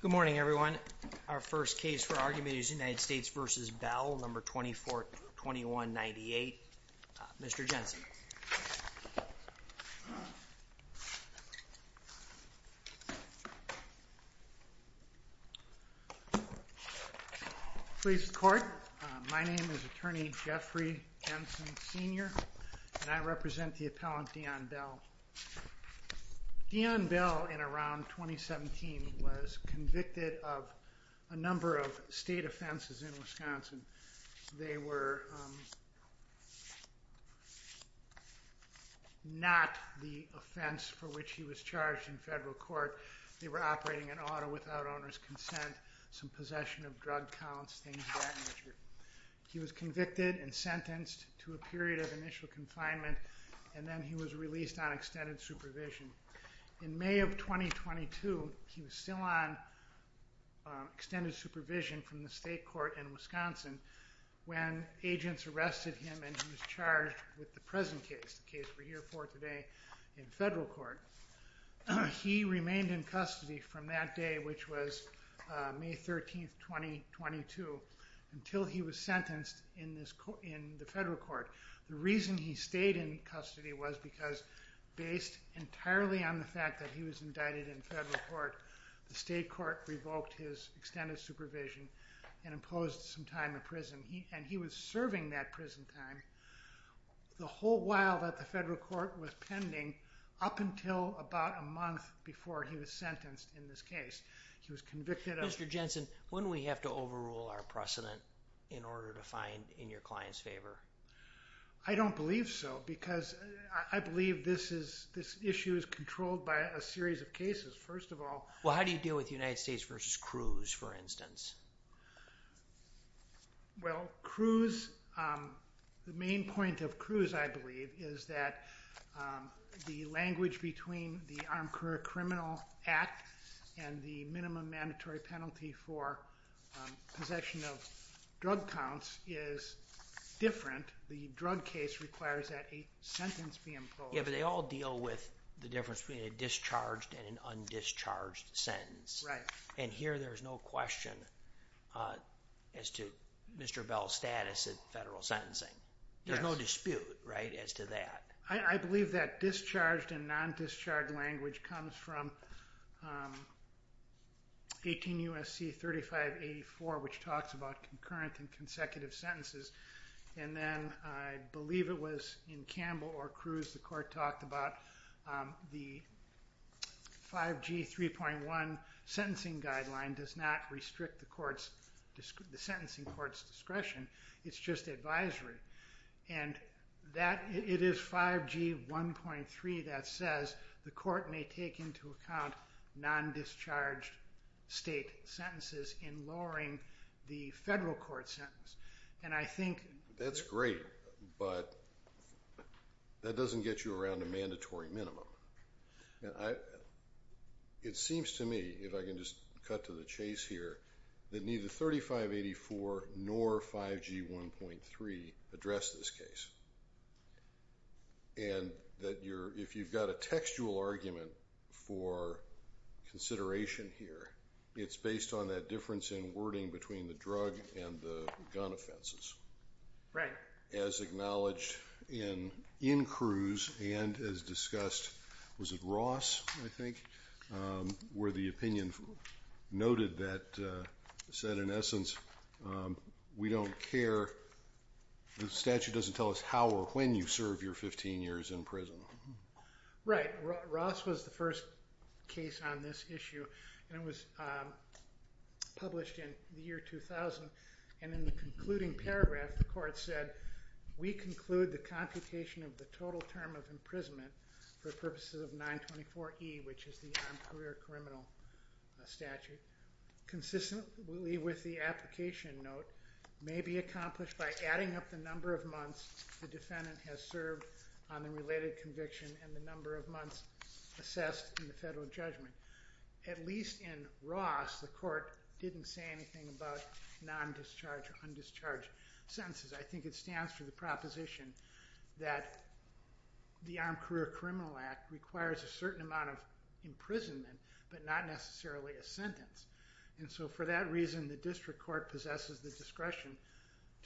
Good morning, everyone. Our first case for argument is United States v. Bell, No. 24-2198. Mr. Jensen. Please record. My name is Attorney Jeffrey Jensen Sr. and I represent the appellant Dion Bell. Dion Bell, in around 2017, was convicted of a number of state offenses in Wisconsin. They were not the offense for which he was charged in federal court. They were operating an auto without owner's consent, some possession of drug counts, things of that nature. He was convicted and sentenced to a period of initial confinement and then he was released on extended supervision. In May of 2022, he was still on extended supervision from the state court in Wisconsin when agents arrested him and he was charged with the present case, the case we're here for today, in federal court. He remained in custody from that day, which was May 13, 2022, until he was sentenced in the federal court. The reason he stayed in custody was because, based entirely on the fact that he was indicted in federal court, the state court revoked his extended supervision and imposed some time in prison. He was serving that prison time the whole while that the federal court was pending, up until about a month before he was sentenced in this case. He was convicted of- Mr. Jensen, wouldn't we have to overrule our precedent in order to find in your client's favor? I don't believe so because I believe this issue is controlled by a series of cases, first of all. Well, how do you deal with United States v. Cruz, for instance? Well, Cruz, the main point of Cruz, I believe, is that the language between the Armed Career Criminal Act and the minimum mandatory penalty for possession of drug counts is different. The drug case requires that a sentence be imposed. Yeah, but they all deal with the difference between a discharged and an undischarged sentence. Right. And here there's no question as to Mr. Bell's status in federal sentencing. There's no dispute, right, as to that. I believe that discharged and non-discharged language comes from 18 U.S.C. 3584, which talks about concurrent and consecutive sentences. And then I believe it was in Campbell v. Cruz the court talked about the 5G 3.1 sentencing guideline does not restrict the sentencing court's discretion. It's just advisory. And it is 5G 1.3 that says the court may take into account non-discharged state sentences in lowering the federal court sentence. And I think That's great, but that doesn't get you around a mandatory minimum. It seems to me, if I can just cut to the chase here, that neither 3584 nor 5G 1.3 address this case. And that if you've got a textual argument for consideration here, it's based on that difference in wording between the drug and the gun offenses. Right. As acknowledged in Cruz and as discussed, was it Ross, I think, where the opinion noted that said, in essence, we don't care. The statute doesn't tell us how or when you serve your 15 years in prison. Right. Ross was the first case on this issue and it was published in the year 2000. And in the concluding paragraph, the court said, we conclude the computation of the total term of imprisonment for purposes of 924 E, which is the career criminal statute. Consistently with the application note may be accomplished by adding up the number of months the defendant has served on the related conviction and the number of months assessed in the federal judgment. At least in Ross, the court didn't say anything about non-discharge or undischarged sentences. I think it stands for the proposition that the Armed Career Criminal Act requires a certain amount of imprisonment, but not necessarily a sentence. And so for that reason, the district court possesses the discretion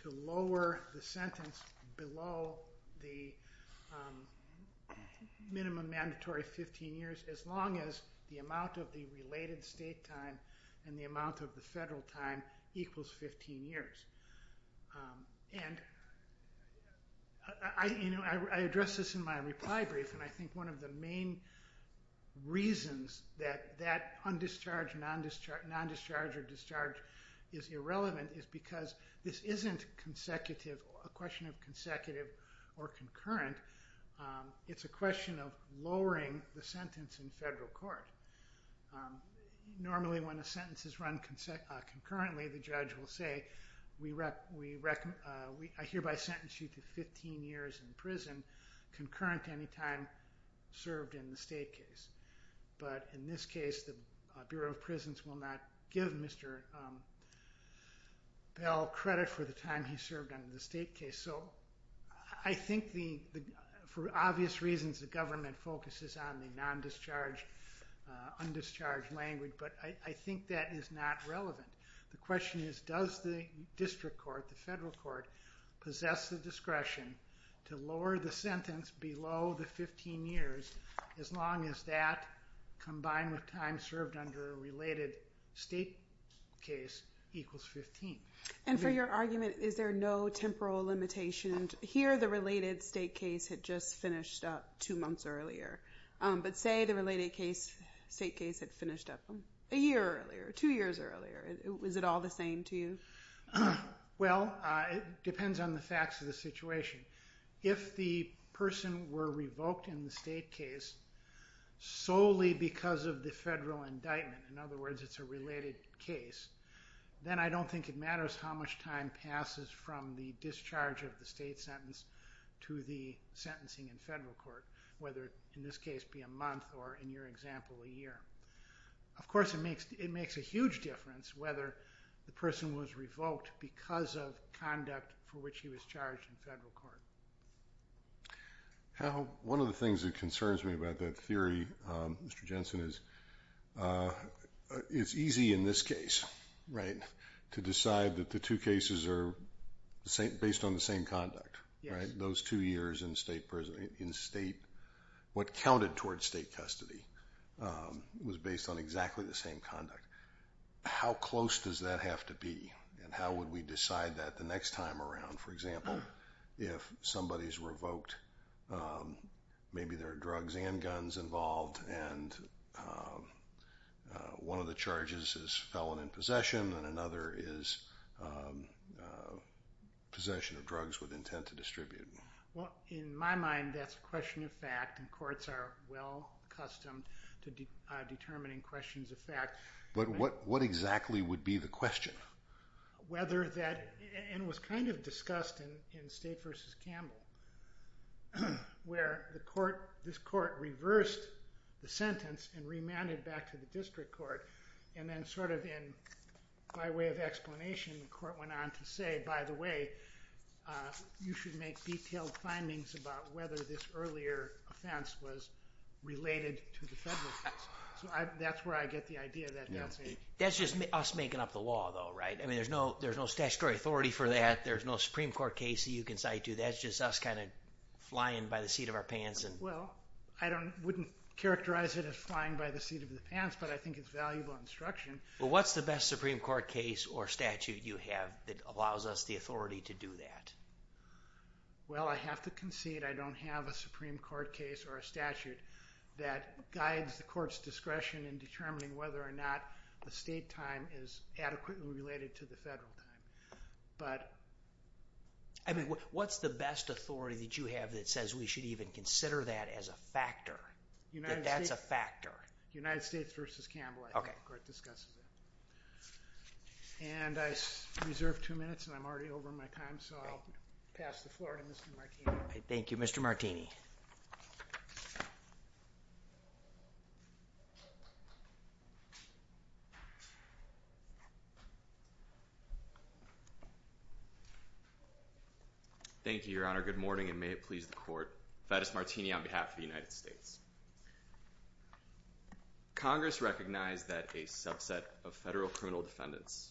to lower the sentence below the minimum mandatory 15 years, as long as the amount of the related state time and the amount of the federal time equals 15 years. And I addressed this in my reply brief, and I think one of the main reasons that that undischarged, non-discharge, or discharge is irrelevant is because this isn't a question of consecutive or concurrent. It's a question of lowering the sentence in federal court. Normally when a sentence is run concurrently, the judge will say, I hereby sentence you to 15 years in prison, concurrent to any time served in the state case. But in this case, the Bureau of Prisons will not give Mr. Bell credit for the time he served in the state case. So I think for obvious reasons, the government focuses on the non-discharge, undischarged language, but I think that is not relevant. The question is, does the district court, the federal court, possess the discretion to lower the sentence below the 15 years, as long as that, combined with time served under a related state case, equals 15? And for your argument, is there no temporal limitation? Here the related state case had just finished up two months earlier, but say the related state case had finished up a year earlier, two years earlier. Is it all the same to you? Well, it depends on the facts of the situation. If the person were revoked in the state case solely because of the federal indictment, in other words, it's a related case, then I don't think it matters how much time passes from the discharge of the state sentence to the sentencing in federal court, whether in this case be a month or, in your example, a year. Of course, it makes a huge difference whether the person was revoked because of conduct for which he was charged in federal court. One of the things that concerns me about that theory, Mr. Jensen, is it's easy in this case to decide that the two cases are based on the same conduct. Those two years in state, what counted towards state custody, was based on exactly the same conduct. How close does that have to be and how would we decide that the next time around? For example, if somebody is revoked, maybe there are drugs and guns involved and one of the charges is felon in possession and another is possession of drugs with intent to distribute. Well, in my mind, that's a question of fact and courts are well accustomed to determining questions of fact. But what exactly would be the question? Whether that, and it was kind of discussed in State v. Campbell, where this court reversed the sentence and remanded back to the district court and then sort of in my way of explanation, the court went on to say, by the way, you should make detailed findings about whether this earlier offense was related to the federal offense. So that's where I get the idea that that's it. That's just us making up the law, though, right? I mean, there's no statutory authority for that. There's no Supreme Court case that you can cite to. That's just us kind of flying by the seat of our pants. Well, I wouldn't characterize it as flying by the seat of the pants, but I think it's valuable instruction. Well, what's the best Supreme Court case or statute you have that allows us the authority to do that? Well, I have to concede I don't have a Supreme Court case or a statute that guides the court's discretion in determining whether or not the State time is adequately related to the federal time. I mean, what's the best authority that you have that says we should even consider that as a factor, that that's a factor? United States v. Campbell, I think, where it discusses that. And I reserve two minutes, and I'm already over my time, so I'll pass the floor to Mr. Martini. Thank you, Mr. Martini. Thank you, Your Honor. Good morning, and may it please the Court. Thaddeus Martini on behalf of the United States. Congress recognized that a subset of federal criminal defendants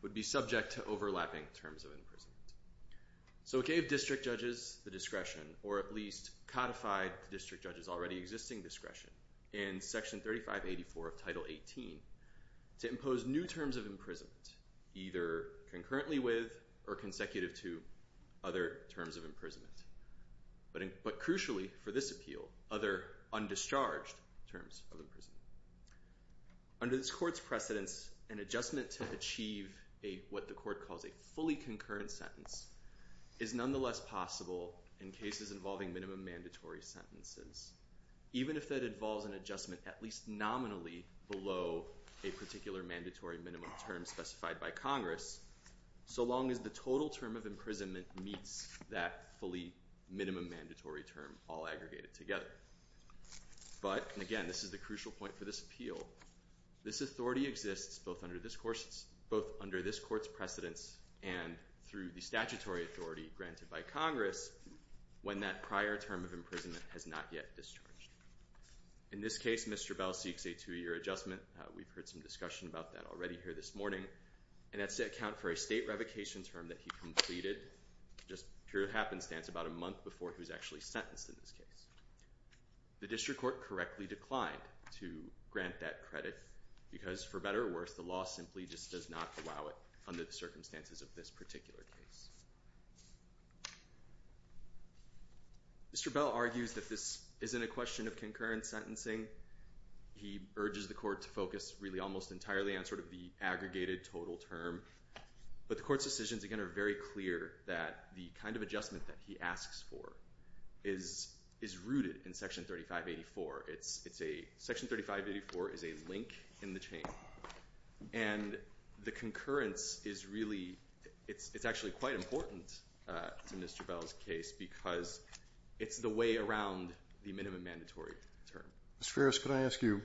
would be subject to overlapping terms of imprisonment. So it gave district judges the discretion, or at least codified district judges' already existing discretion, in Section 3584 of Title 18 to impose new terms of imprisonment, either concurrently with or consecutive to other terms of imprisonment, but crucially, for this appeal, other undischarged terms of imprisonment. Under this Court's precedence, an adjustment to achieve what the Court calls a fully concurrent sentence is nonetheless possible in cases involving minimum mandatory sentences, even if that involves an adjustment at least nominally below a particular mandatory minimum term specified by Congress, so long as the total term of imprisonment meets that fully minimum mandatory term all aggregated together. But, and again, this is the crucial point for this appeal, this authority exists both under this Court's precedence and through the statutory authority granted by Congress when that prior term of imprisonment has not yet discharged. In this case, Mr. Bell seeks a two-year adjustment. We've heard some discussion about that already here this morning, and that's to account for a state revocation term that he completed just pure happenstance about a month before he was actually sentenced in this case. The District Court correctly declined to grant that credit because, for better or worse, the law simply just does not allow it under the circumstances of this particular case. Mr. Bell argues that this isn't a question of concurrent sentencing. He urges the Court to focus really almost entirely on sort of the aggregated total term, but the Court's decisions, again, are very clear that the kind of adjustment that he asks for is rooted in Section 3584. Section 3584 is a link in the chain, and the concurrence is really, it's actually quite important in Mr. Bell's case because it's the way around the minimum mandatory term. Mr. Ferris, could I ask you,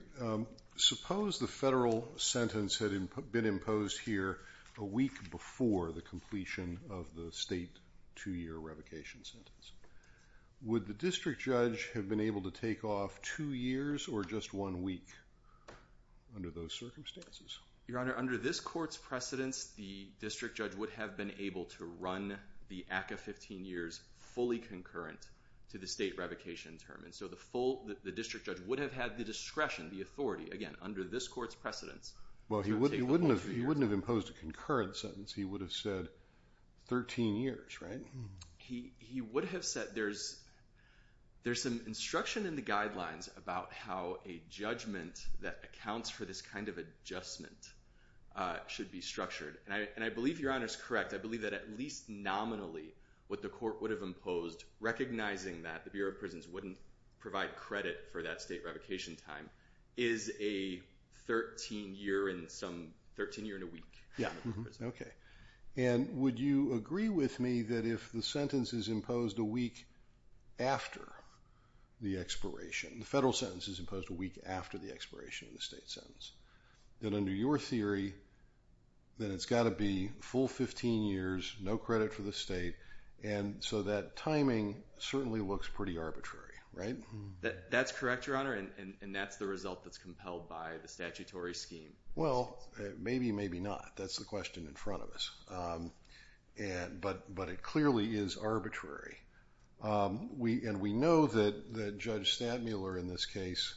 suppose the federal sentence had been imposed here a week before the completion of the state two-year revocation sentence. Would the district judge have been able to take off two years or just one week under those circumstances? Your Honor, under this Court's precedence, the district judge would have been able to run the ACCA 15 years fully concurrent to the state revocation term. And so the full, the district judge would have had the discretion, the authority, again, under this Court's precedence. Well, he wouldn't have imposed a concurrent sentence. He would have said 13 years, right? He would have said, there's some instruction in the guidelines about how a judgment that accounts for this kind of adjustment should be structured. And I believe Your Honor's correct. I believe that at least nominally what the Court would have imposed, recognizing that the Bureau of Prisons wouldn't provide credit for that state revocation time, is a 13-year and some, 13-year and a week. Yeah. Okay. And would you agree with me that if the sentence is imposed a week after the expiration, the federal sentence is imposed a week after the expiration of the state sentence, that under your theory, that it's got to be full 15 years, no credit for the state, and so that timing certainly looks pretty arbitrary, right? That's correct, Your Honor, and that's the result that's compelled by the statutory scheme. Well, maybe, maybe not. That's the question in front of us. But it clearly is arbitrary. And we know that Judge Stantmuller in this case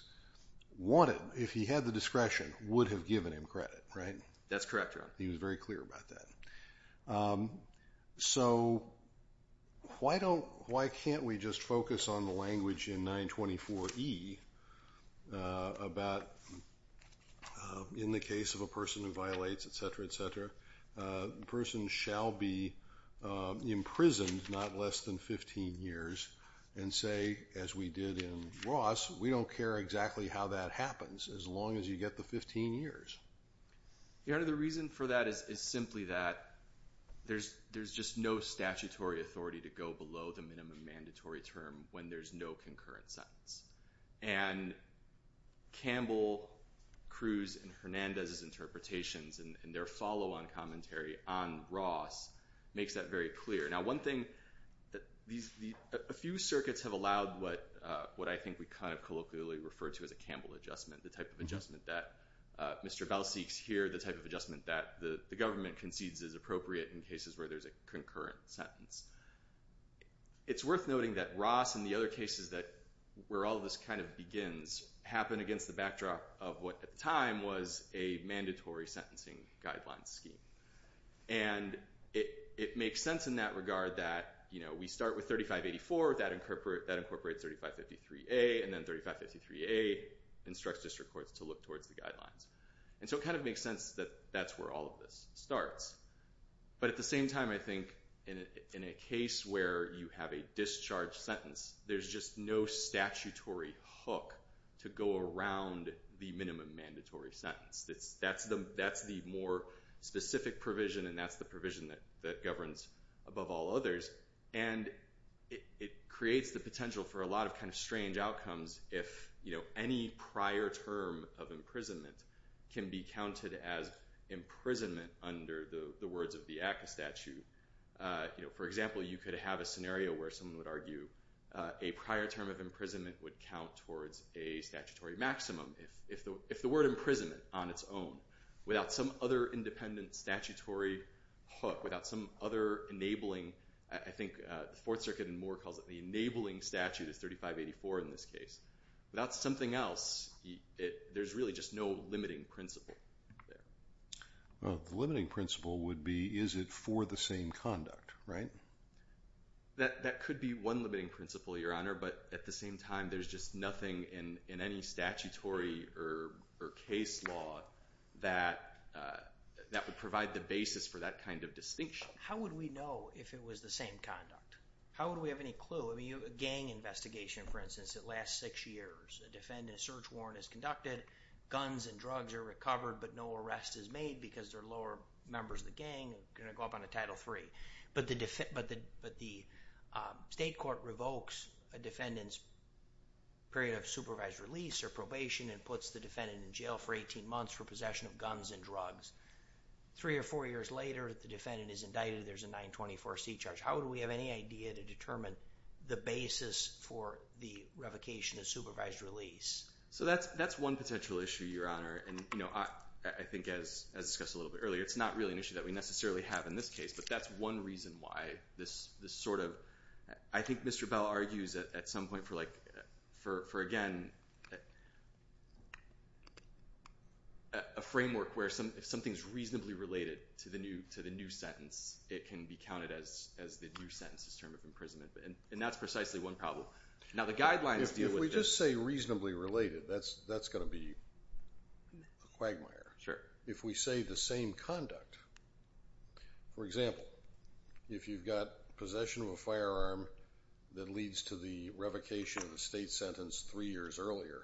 wanted, if he had the discretion, would have given him credit, right? That's correct, Your Honor. He was very clear about that. So why don't, why can't we just focus on the language in 924E about, in the case of a person who violates, etc., etc., the person shall be imprisoned not less than 15 years and say, as we did in Ross, we don't care exactly how that happens as long as you get the 15 years. Your Honor, the reason for that is simply that there's just no statutory authority to go below the minimum mandatory term when there's no concurrent sentence. And Campbell, Cruz, and Hernandez's interpretations and their follow-on commentary on Ross makes that very clear. Now, one thing, a few circuits have allowed what I think we kind of colloquially refer to as a Campbell adjustment, the type of adjustment that Mr. Bell seeks here, the type of adjustment that the government concedes is appropriate in cases where there's a concurrent sentence. It's worth noting that Ross and the other cases that, where all this kind of begins, happen against the backdrop of what at the time was a mandatory sentencing guideline scheme. And it makes sense in that regard that, you know, we start with 3584, that incorporates 3553A, and then 3553A instructs district courts to look towards the guidelines. And so it kind of makes sense that that's where all of this starts. But at the same time, I think in a case where you have a discharge sentence, there's just no statutory hook to go around the minimum mandatory sentence. That's the more specific provision, and that's the provision that governs above all others. And it creates the potential for a lot of kind of strange outcomes if, you know, any prior term of imprisonment can be counted as imprisonment under the words of the ACCA statute. You know, for example, you could have a scenario where someone would argue a prior term of imprisonment would count towards a statutory maximum. If the word imprisonment on its own, without some other independent statutory hook, without some other enabling, I think the Fourth Circuit in Moore calls it the enabling statute of 3584 in this case. Without something else, there's really just no limiting principle there. Well, the limiting principle would be is it for the same conduct, right? That could be one limiting principle, Your Honor, but at the same time, there's just nothing in any statutory or case law that would provide the basis for that kind of distinction. How would we know if it was the same conduct? How would we have any clue? A gang investigation, for instance, that lasts six years. A defendant's search warrant is conducted. Guns and drugs are recovered, but no arrest is made because they're lower members of the gang. Going to go up on to Title III. But the state court revokes a defendant's period of supervised release or probation and puts the defendant in jail for 18 months for possession of guns and drugs. Three or four years later, the defendant is indicted. There's a 924C charge. How would we have any idea to determine the basis for the revocation of supervised release? So that's one potential issue, Your Honor, and I think as discussed a little bit earlier, it's not really an issue that we necessarily have in this case. But that's one reason why this sort of—I think Mr. Bell argues at some point for, again, a framework where if something's reasonably related to the new sentence, it can be counted as the new sentence, this term of imprisonment. And that's precisely one problem. Now, the guidelines deal with this. If we just say reasonably related, that's going to be a quagmire. Sure. If we say the same conduct, for example, if you've got possession of a firearm that leads to the revocation of a state sentence three years earlier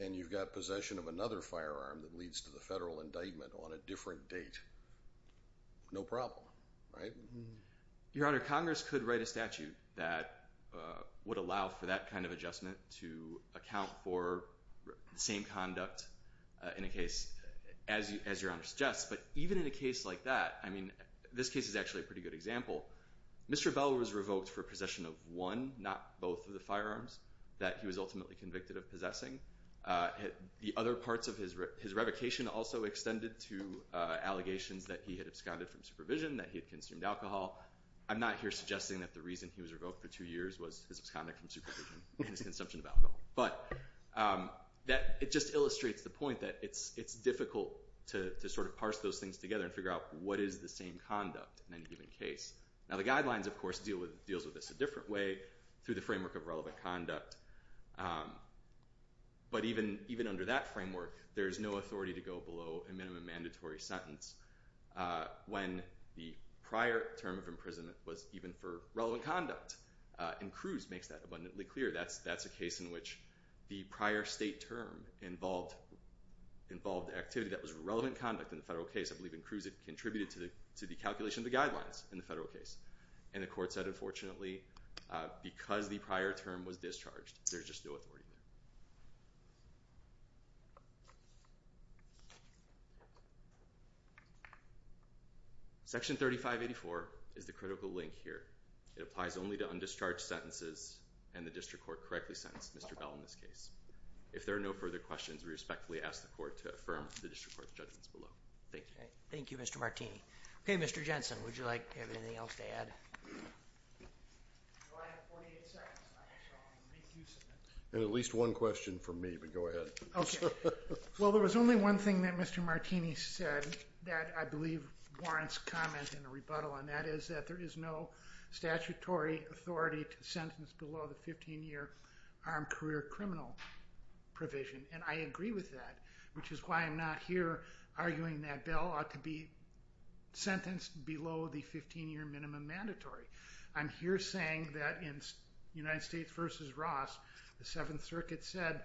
and you've got possession of another firearm that leads to the federal indictment on a different date, no problem, right? Your Honor, Congress could write a statute that would allow for that kind of adjustment to account for the same conduct in a case as Your Honor suggests. But even in a case like that, I mean, this case is actually a pretty good example. Mr. Bell was revoked for possession of one, not both, of the firearms that he was ultimately convicted of possessing. The other parts of his revocation also extended to allegations that he had absconded from supervision, that he had consumed alcohol. I'm not here suggesting that the reason he was revoked for two years was his absconding from supervision and his consumption of alcohol. But it just illustrates the point that it's difficult to sort of parse those things together and figure out what is the same conduct in any given case. Now, the guidelines, of course, deal with this a different way through the framework of relevant conduct. But even under that framework, there's no authority to go below a minimum mandatory sentence when the prior term of imprisonment was even for relevant conduct. And Cruz makes that abundantly clear. That's a case in which the prior state term involved activity that was relevant conduct in the federal case. I believe in Cruz it contributed to the calculation of the guidelines in the federal case. And the court said, unfortunately, because the prior term was discharged, there's just no authority there. Section 3584 is the critical link here. It applies only to undischarged sentences and the district court correctly sentenced Mr. Bell in this case. If there are no further questions, we respectfully ask the court to affirm the district court's judgments below. Thank you. Thank you, Mr. Martini. Okay, Mr. Jensen, would you like anything else to add? At least one question from me, but go ahead. Well, there was only one thing that Mr. Martini said that I believe warrants comment and a rebuttal. And that is that there is no statutory authority to sentence below the 15-year armed career criminal provision. And I agree with that, which is why I'm not here arguing that Bell ought to be sentenced below the 15-year minimum mandatory. I'm here saying that in United States v. Ross, the Seventh Circuit said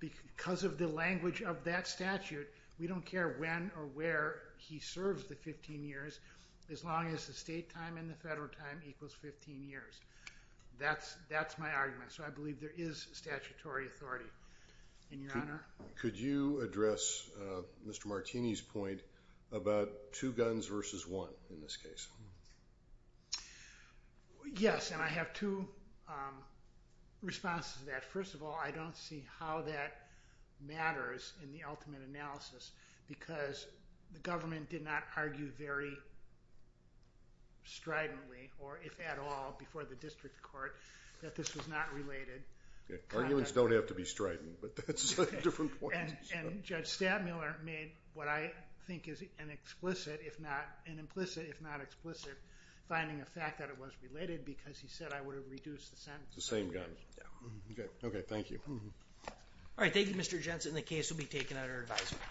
because of the language of that statute, we don't care when or where he serves the 15 years as long as the state time and the federal time equals 15 years. That's my argument. So I believe there is statutory authority. And, Your Honor? Could you address Mr. Martini's point about two guns versus one in this case? Yes, and I have two responses to that. First of all, I don't see how that matters in the ultimate analysis because the government did not argue very stridently, or if at all before the district court, that this was not related. Arguments don't have to be strident, but that's a slightly different point. And Judge Stadmiller made what I think is an explicit, if not an implicit, if not explicit, finding a fact that it was related because he said I would have reduced the sentence. The same guns? Yes. Okay, thank you. All right, thank you, Mr. Jensen. The case will be taken under advisement.